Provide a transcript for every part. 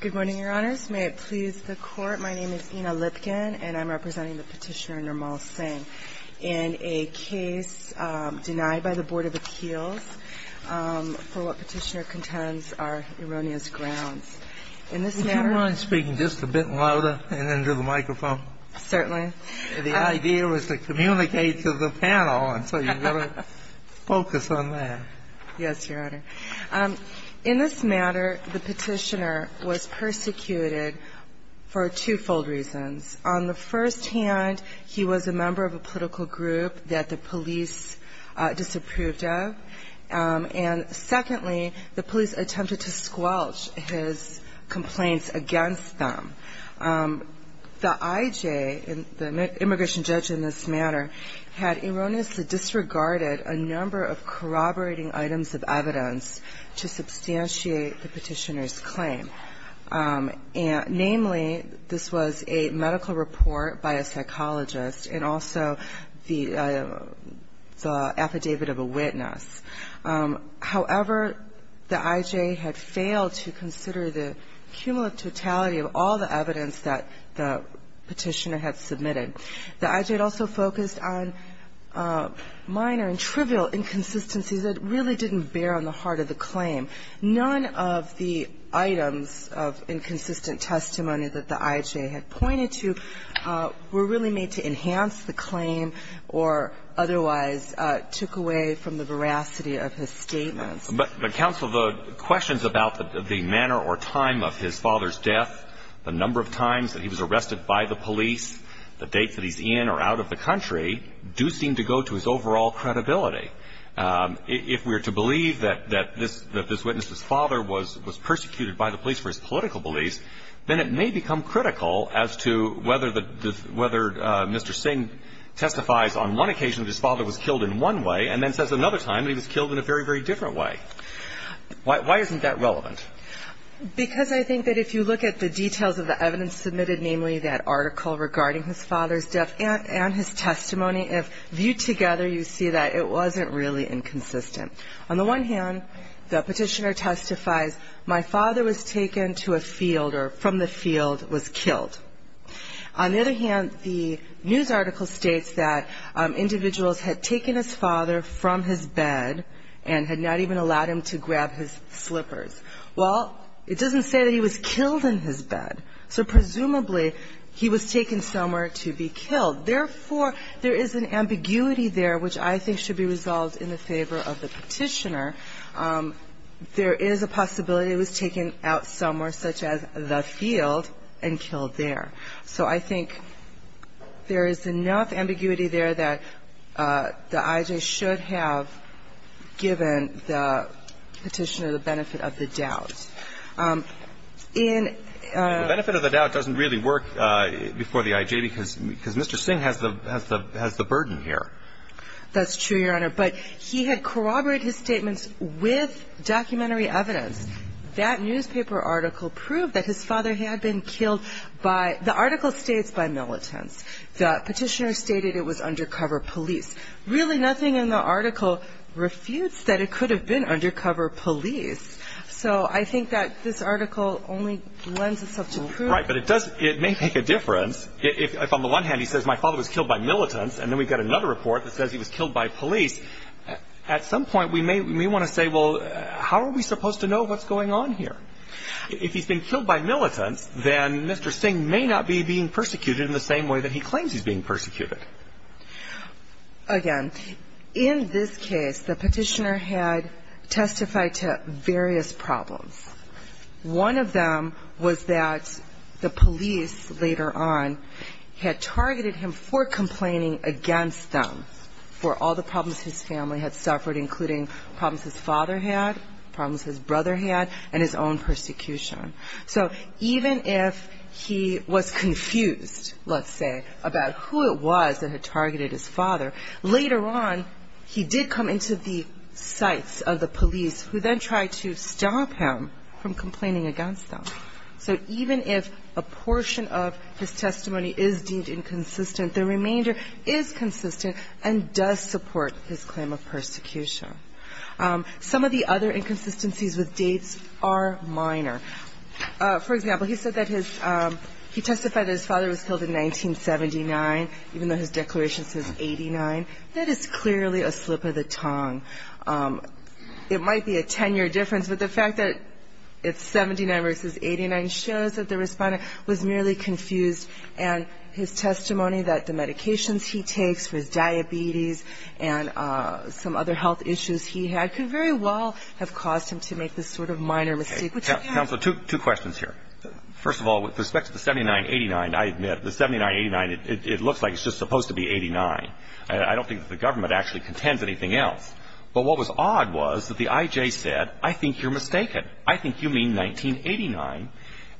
Good morning, Your Honors. May it please the Court, my name is Ina Lipkin, and I'm representing the Petitioner, Nirmal Singh, in a case denied by the Board of Appeals for what Petitioner contends are erroneous grounds. In this matter – Would you mind speaking just a bit louder and into the microphone? Certainly. The idea was to communicate to the panel, and so you've got to focus on that. Yes, Your Honor. In this matter, the Petitioner was persecuted for twofold reasons. On the first hand, he was a member of a political group that the police disapproved of. And secondly, the police attempted to squelch his complaints against them. The IJ, the immigration judge in this matter, had erroneously disregarded a number of corroborating items of evidence to substantiate the Petitioner's claim. Namely, this was a medical report by a psychologist, and also the affidavit of a witness. However, the IJ had failed to consider the cumulative totality of all the evidence that the Petitioner had submitted. The IJ had also focused on minor and trivial inconsistencies that really didn't bear on the heart of the claim. None of the items of inconsistent testimony that the IJ had pointed to were really made to enhance the claim or otherwise took away from the veracity of his statements. But, Counsel, the questions about the manner or time of his father's death, the number of times that he was arrested by the police, the dates that he's in or out of the country, do seem to go to his overall credibility. If we're to believe that this witness's father was persecuted by the police for his political beliefs, then it may become critical as to whether Mr. Singh testifies on one occasion that his father was killed in one way and then says another time that he was killed in a very, very different way. Why isn't that relevant? Because I think that if you look at the details of the evidence submitted, namely that article regarding his father's death and his testimony, if viewed together, you see that it wasn't really inconsistent. On the one hand, the Petitioner testifies, my father was taken to a field or from the field, was killed. On the other hand, the news article states that individuals had taken his father from his bed and had not even allowed him to grab his slippers. Well, it doesn't say that he was killed in his bed, so presumably he was taken somewhere to be killed. Therefore, there is an ambiguity there which I think should be resolved in the favor of the Petitioner. There is a possibility he was taken out somewhere, such as the field, and killed there. So I think there is enough ambiguity there that the I.J. should have given the Petitioner the benefit of the doubt. The benefit of the doubt doesn't really work before the I.J. because Mr. Singh has the burden here. That's true, Your Honor. But he had corroborated his statements with documentary evidence. That newspaper article proved that his father had been killed. The article states by militants. The Petitioner stated it was undercover police. Really, nothing in the article refutes that it could have been undercover police. So I think that this article only lends itself to proof. Right, but it may make a difference if on the one hand he says my father was killed by militants and then we've got another report that says he was killed by police. At some point, we may want to say, well, how are we supposed to know what's going on here? If he's been killed by militants, then Mr. Singh may not be being persecuted in the same way that he claims he's being persecuted. Again, in this case, the Petitioner had testified to various problems. One of them was that the police later on had targeted him for complaining against them for all the problems his family had suffered, including problems his father had, problems his brother had, and his own persecution. So even if he was confused, let's say, about who it was that had targeted his father, later on he did come into the sights of the police who then tried to stop him from complaining against them. So even if a portion of his testimony is deemed inconsistent, the remainder is consistent and does support his claim of persecution. Some of the other inconsistencies with dates are minor. For example, he said that his he testified that his father was killed in 1979, even though his declaration says 89. That is clearly a slip of the tongue. It might be a 10-year difference, but the fact that it's 79 versus 89 shows that the respondent was merely confused, and his testimony that the medications he takes for his diabetes and some other health issues he had could very well have caused him to make this sort of minor mistake. Counsel, two questions here. First of all, with respect to the 79-89, I admit, the 79-89, it looks like it's just supposed to be 89. I don't think that the government actually contends anything else. But what was odd was that the I.J. said, I think you're mistaken. I think you mean 1989.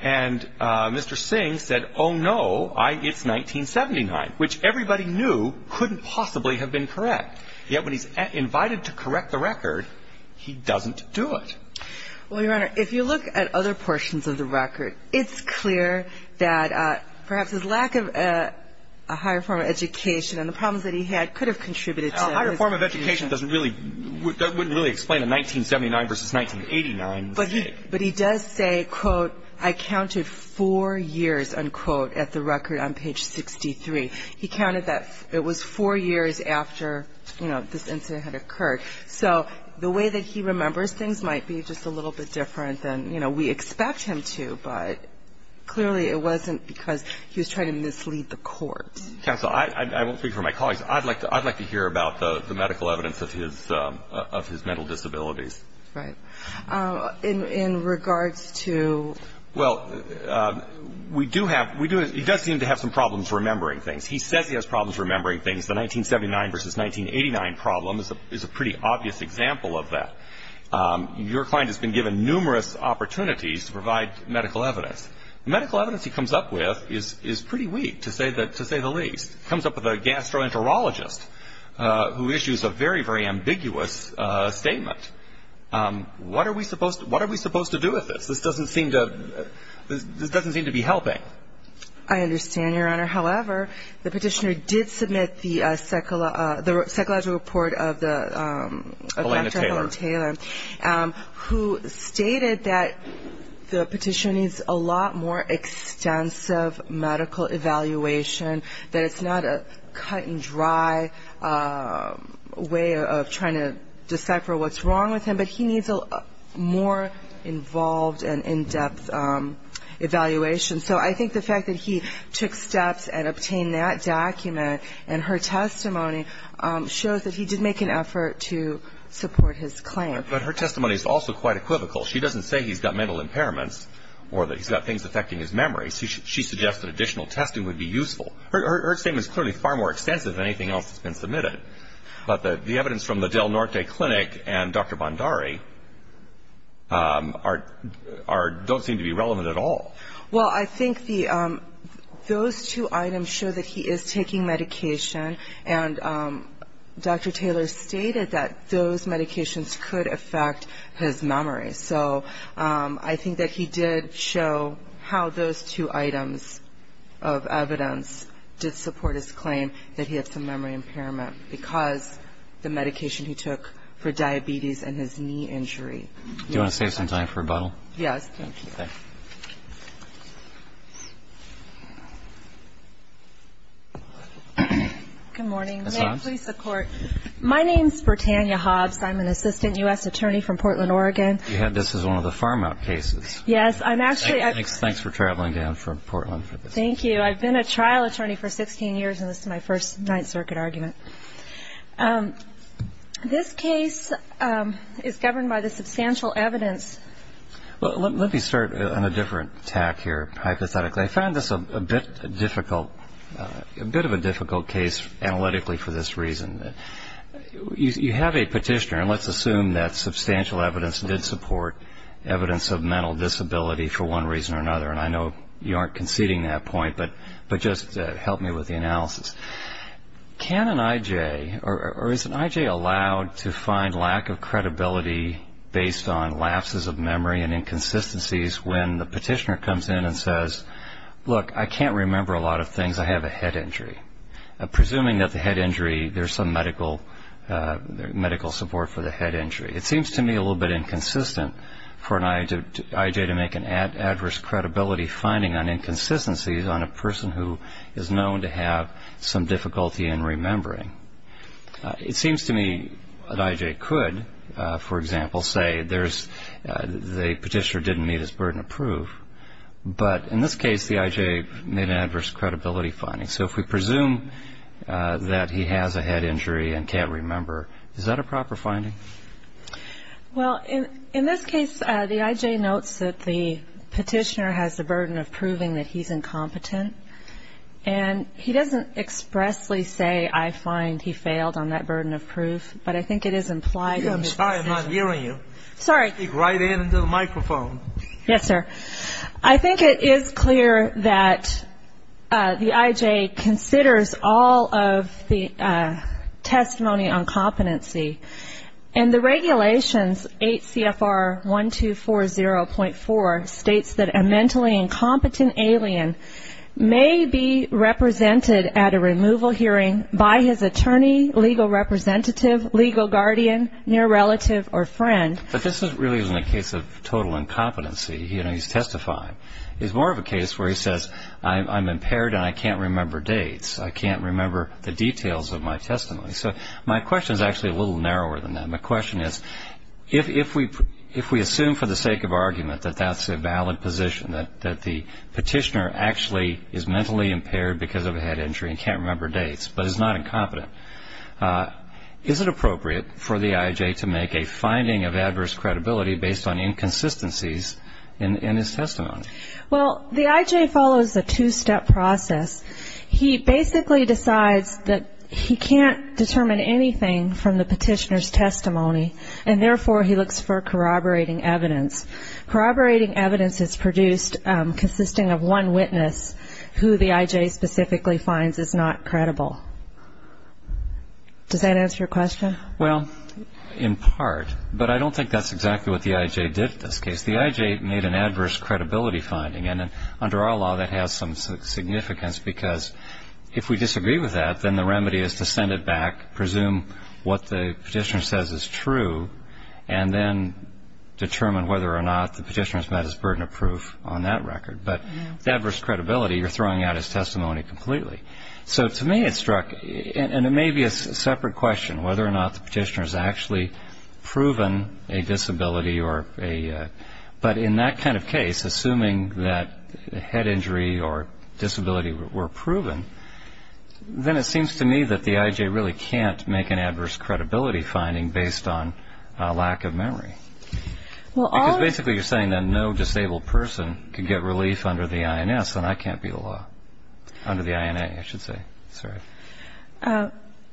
And Mr. Singh said, oh, no, it's 1979, which everybody knew couldn't possibly have been correct. Yet when he's invited to correct the record, he doesn't do it. Well, Your Honor, if you look at other portions of the record, it's clear that perhaps his lack of a higher form of education and the problems that he had could have contributed to his confusion. A higher form of education doesn't really – wouldn't really explain a 1979 versus 1989 mistake. But he does say, quote, I counted four years, unquote, at the record on page 63. He counted that it was four years after, you know, this incident had occurred. So the way that he remembers things might be just a little bit different than, you know, we expect him to. But clearly it wasn't because he was trying to mislead the court. Counsel, I won't speak for my colleagues. I'd like to hear about the medical evidence of his mental disabilities. Right. In regards to – Well, we do have – he does seem to have some problems remembering things. He says he has problems remembering things. The 1979 versus 1989 problem is a pretty obvious example of that. Your client has been given numerous opportunities to provide medical evidence. The medical evidence he comes up with is pretty weak, to say the least. He comes up with a gastroenterologist who issues a very, very ambiguous statement. What are we supposed to do with this? This doesn't seem to be helping. I understand, Your Honor. However, the petitioner did submit the psychological report of Dr. Helen Taylor, who stated that the petitioner needs a lot more extensive medical evaluation, that it's not a cut-and-dry way of trying to decipher what's wrong with him, but he needs more involved and in-depth evaluation. So I think the fact that he took steps and obtained that document and her testimony shows that he did make an effort to support his claim. But her testimony is also quite equivocal. She doesn't say he's got mental impairments or that he's got things affecting his memory. She suggests that additional testing would be useful. Her statement is clearly far more extensive than anything else that's been submitted. But the evidence from the Del Norte Clinic and Dr. Bondari don't seem to be relevant at all. Well, I think those two items show that he is taking medication, and Dr. Taylor stated that those medications could affect his memory. So I think that he did show how those two items of evidence did support his claim, that he had some memory impairment because the medication he took for diabetes and his knee injury. Do you want to save some time for rebuttal? Yes. Thank you. Good morning. May it please the Court. My name is Bertania Hobbs. I'm an assistant U.S. attorney from Portland, Oregon. This is one of the farm-out cases. Yes. Thanks for traveling down from Portland. Thank you. I've been a trial attorney for 16 years, and this is my first Ninth Circuit argument. This case is governed by the substantial evidence. Well, let me start on a different tack here, hypothetically. I found this a bit difficult, a bit of a difficult case analytically for this reason. You have a petitioner, and let's assume that substantial evidence did support evidence of mental disability for one reason or another, and I know you aren't conceding that point, but just help me with the analysis. Can an I.J. or is an I.J. allowed to find lack of credibility based on lapses of memory and inconsistencies when the petitioner comes in and says, look, I can't remember a lot of things. I have a head injury. Presuming that the head injury, there's some medical support for the head injury. It seems to me a little bit inconsistent for an I.J. to make an adverse credibility finding on inconsistencies on a person who is known to have some difficulty in remembering. It seems to me an I.J. could, for example, say the petitioner didn't meet his burden of proof, but in this case the I.J. made an adverse credibility finding. So if we presume that he has a head injury and can't remember, is that a proper finding? Well, in this case the I.J. notes that the petitioner has the burden of proving that he's incompetent, and he doesn't expressly say, I find he failed on that burden of proof, but I think it is implied. I'm sorry, I'm not hearing you. Sorry. Speak right into the microphone. Yes, sir. I think it is clear that the I.J. considers all of the testimony on competency, and the regulations 8 CFR 1240.4 states that a mentally incompetent alien may be represented at a removal hearing by his attorney, legal representative, legal guardian, near relative, or friend. But this really isn't a case of total incompetency. He's testifying. It's more of a case where he says, I'm impaired and I can't remember dates. I can't remember the details of my testimony. So my question is actually a little narrower than that. My question is, if we assume for the sake of argument that that's a valid position, that the petitioner actually is mentally impaired because of a head injury and can't remember dates, but is not incompetent, is it appropriate for the I.J. to make a finding of adverse credibility based on inconsistencies in his testimony? Well, the I.J. follows a two-step process. He basically decides that he can't determine anything from the petitioner's testimony, and therefore he looks for corroborating evidence. Corroborating evidence is produced consisting of one witness who the I.J. specifically finds is not credible. Does that answer your question? Well, in part, but I don't think that's exactly what the I.J. did in this case. The I.J. made an adverse credibility finding, and under our law that has some significance because if we disagree with that, then the remedy is to send it back, presume what the petitioner says is true, and then determine whether or not the petitioner's met his burden of proof on that record. But with adverse credibility, you're throwing out his testimony completely. So to me it struck, and it may be a separate question, whether or not the petitioner's actually proven a disability, but in that kind of case, assuming that the head injury or disability were proven, then it seems to me that the I.J. really can't make an adverse credibility finding based on lack of memory. Because basically you're saying that no disabled person can get relief under the I.N.S., and I can't be the law. Under the I.N.A., I should say. Sorry.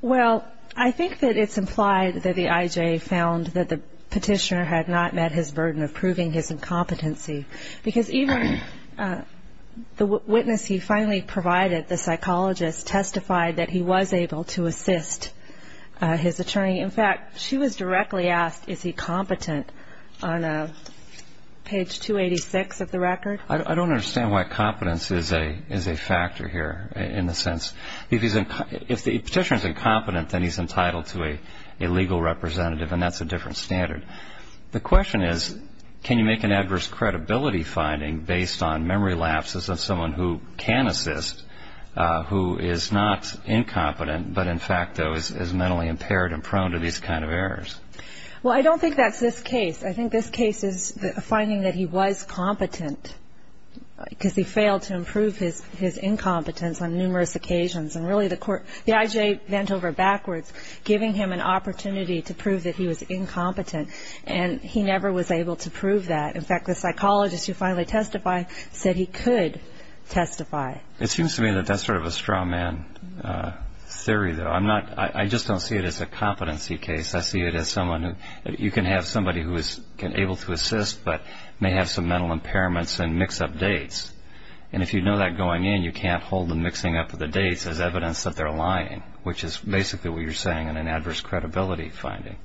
Well, I think that it's implied that the I.J. found that the petitioner had not met his burden of proving his incompetency because even the witness he finally provided, the psychologist, testified that he was able to assist his attorney. In fact, she was directly asked is he competent on page 286 of the record. I don't understand why competence is a factor here in the sense. If the petitioner's incompetent, then he's entitled to a legal representative, and that's a different standard. The question is can you make an adverse credibility finding based on memory lapses of someone who can assist, who is not incompetent, but in fact, though, is mentally impaired and prone to these kind of errors? Well, I don't think that's this case. I think this case is finding that he was competent because he failed to improve his incompetence on numerous occasions. And really, the I.J. bent over backwards, giving him an opportunity to prove that he was incompetent, and he never was able to prove that. In fact, the psychologist who finally testified said he could testify. It seems to me that that's sort of a straw man theory, though. I just don't see it as a competency case. I see it as someone who you can have somebody who is able to assist but may have some mental impairments and mix up dates. And if you know that going in, you can't hold them mixing up the dates as evidence that they're lying, which is basically what you're saying in an adverse credibility finding.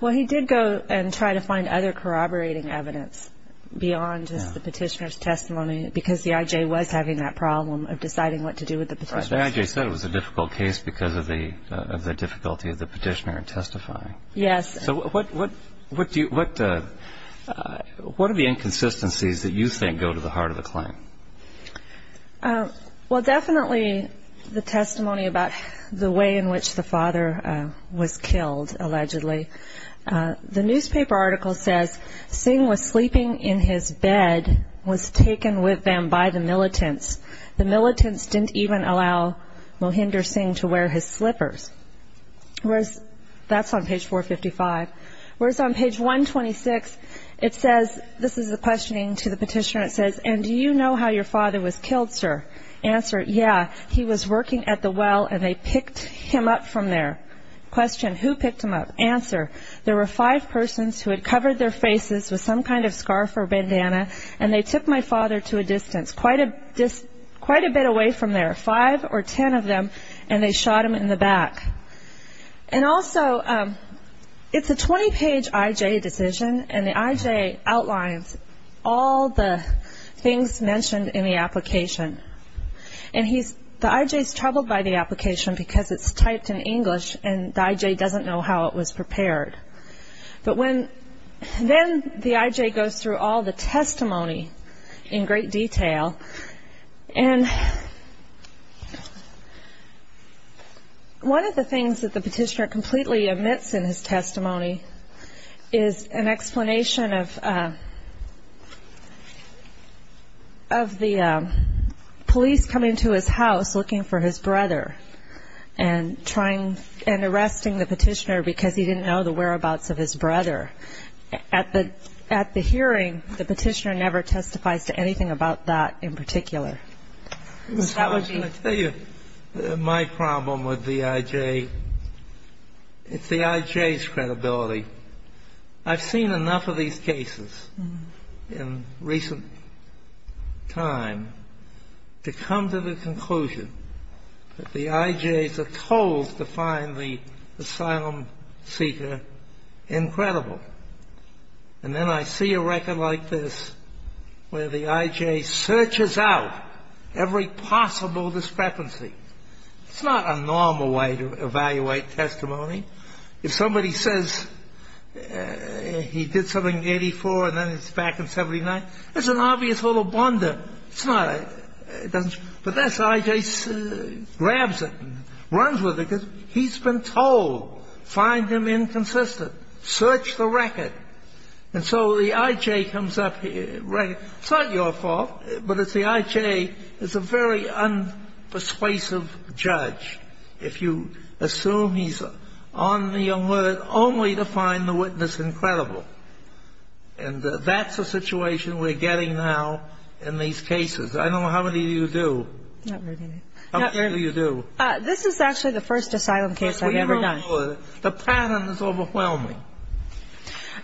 Well, he did go and try to find other corroborating evidence beyond just the petitioner's testimony because the I.J. was having that problem of deciding what to do with the petitioner's testimony. Right. The I.J. said it was a difficult case because of the difficulty of the petitioner in testifying. Yes. So what are the inconsistencies that you think go to the heart of the claim? Well, definitely the testimony about the way in which the father was killed, allegedly. The newspaper article says Singh was sleeping in his bed, was taken with him by the militants. The militants didn't even allow Mohinder Singh to wear his slippers. That's on page 455. Whereas on page 126, it says, this is the questioning to the petitioner, it says, and do you know how your father was killed, sir? Answer, yeah, he was working at the well and they picked him up from there. Question, who picked him up? Answer, there were five persons who had covered their faces with some kind of scarf or bandana and they took my father to a distance, quite a bit away from there, five or ten of them, and they shot him in the back. And also, it's a 20-page IJ decision, and the IJ outlines all the things mentioned in the application. And the IJ is troubled by the application because it's typed in English and the IJ doesn't know how it was prepared. But then the IJ goes through all the testimony in great detail, and one of the things that the petitioner completely omits in his testimony is an explanation of the police coming to his house looking for his brother and trying and arresting the petitioner because he didn't know the whereabouts of his brother. At the hearing, the petitioner never testifies to anything about that in particular. So that would be... I was going to tell you, my problem with the IJ, it's the IJ's credibility. I've seen enough of these cases in recent time to come to the conclusion that the IJs are told to find the asylum seeker incredible. And then I see a record like this where the IJ searches out every possible discrepancy. It's not a normal way to evaluate testimony. If somebody says he did something in 84 and then he's back in 79, that's an obvious little blunder. But the IJ grabs it, runs with it, because he's been told, find him inconsistent, search the record. And so the IJ comes up, it's not your fault, but the IJ is a very unpersuasive judge. If you assume he's on the alert only to find the witness incredible, and that's the situation we're getting now in these cases. I don't know how many of you do. How many of you do? This is actually the first asylum case I've ever done. The pattern is overwhelming.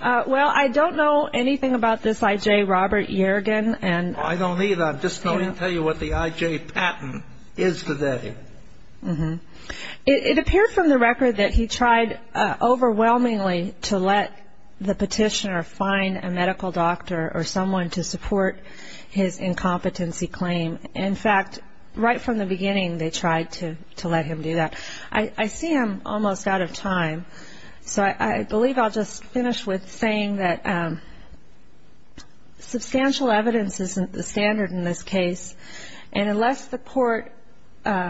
Well, I don't know anything about this IJ, Robert Yergin. I don't either. I'm just going to tell you what the IJ pattern is today. It appeared from the record that he tried overwhelmingly to let the petitioner find a medical doctor or someone to support his incompetency claim. In fact, right from the beginning they tried to let him do that. I see I'm almost out of time, so I believe I'll just finish with saying that substantial evidence isn't the standard in this case, and unless the court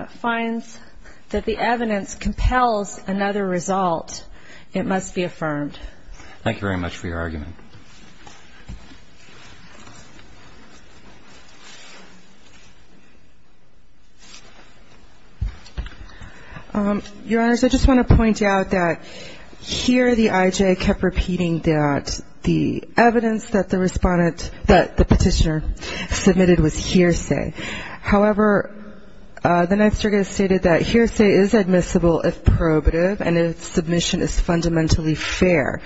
finds that the evidence compels another result, it must be affirmed. Thank you very much for your argument. Your Honors, I just want to point out that here the IJ kept repeating that the evidence that the petitioner submitted was hearsay. However, the next argument stated that hearsay is admissible if probative and its submission is fundamentally fair.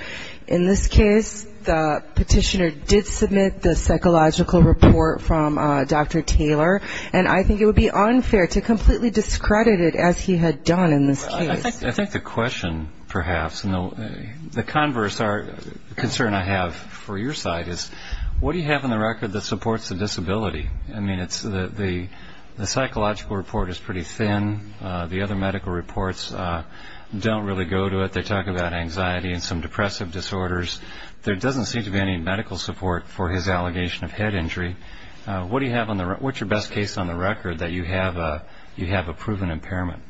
In this case, the petitioner did submit the psychological report from Dr. Taylor, and I think it would be unfair to completely discredit it as he had done in this case. I think the question perhaps, and the converse concern I have for your side is, what do you have in the record that supports the disability? I mean, the psychological report is pretty thin. The other medical reports don't really go to it. They talk about anxiety and some depressive disorders. There doesn't seem to be any medical support for his allegation of head injury. What's your best case on the record that you have a proven impairment?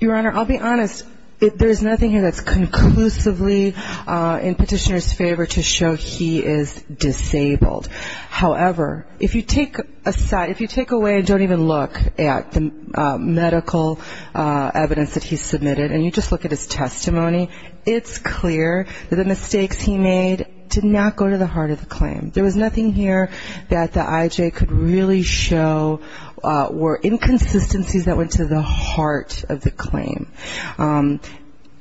Your Honor, I'll be honest. There's nothing here that's conclusively in petitioner's favor to show he is disabled. However, if you take away and don't even look at the medical evidence that he submitted and you just look at his testimony, it's clear that the mistakes he made did not go to the heart of the claim. There was nothing here that the IJ could really show were inconsistencies that went to the heart of the claim.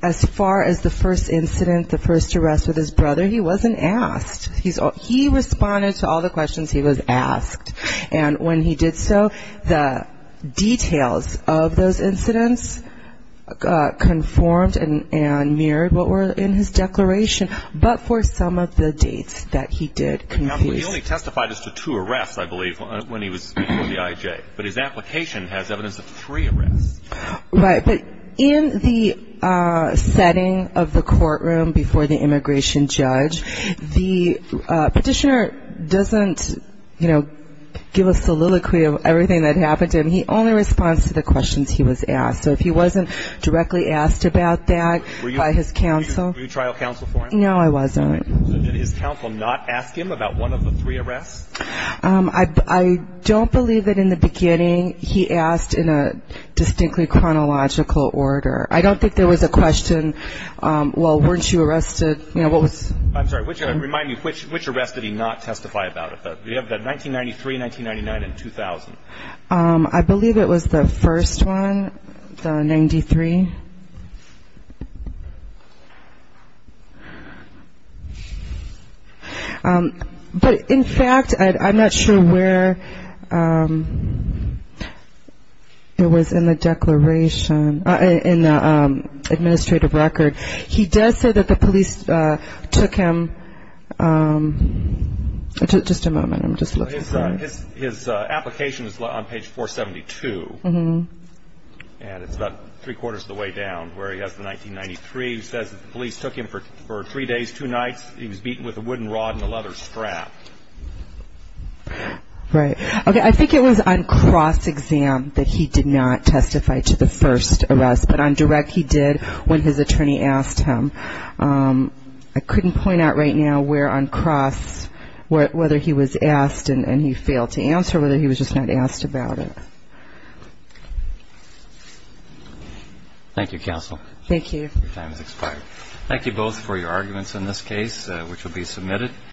As far as the first incident, the first arrest with his brother, he wasn't asked. He responded to all the questions he was asked, and when he did so, the details of those incidents conformed and mirrored what were in his declaration, but for some of the dates that he did confuse. He only testified as to two arrests, I believe, when he was before the IJ, but his application has evidence of three arrests. Right, but in the setting of the courtroom before the immigration judge, the petitioner doesn't give a soliloquy of everything that happened to him. He only responds to the questions he was asked, so if he wasn't directly asked about that by his counsel. Were you trial counsel for him? No, I wasn't. Did his counsel not ask him about one of the three arrests? I don't believe that in the beginning he asked in a distinctly chronological order. I don't think there was a question, well, weren't you arrested? I'm sorry, remind me, which arrests did he not testify about? We have the 1993, 1999, and 2000. I believe it was the first one, the 93. But, in fact, I'm not sure where it was in the declaration, in the administrative record. He does say that the police took him, just a moment, I'm just looking for it. His application is on page 472, and it's about three-quarters of the way down where he has the 1993. It says that the police took him for three days, two nights. He was beaten with a wooden rod and a leather strap. Right. Okay, I think it was on cross-exam that he did not testify to the first arrest, but on direct he did when his attorney asked him. I couldn't point out right now where on cross, whether he was asked and he failed to answer, or whether he was just not asked about it. Thank you, counsel. Thank you. Your time has expired. Thank you both for your arguments in this case, which will be submitted.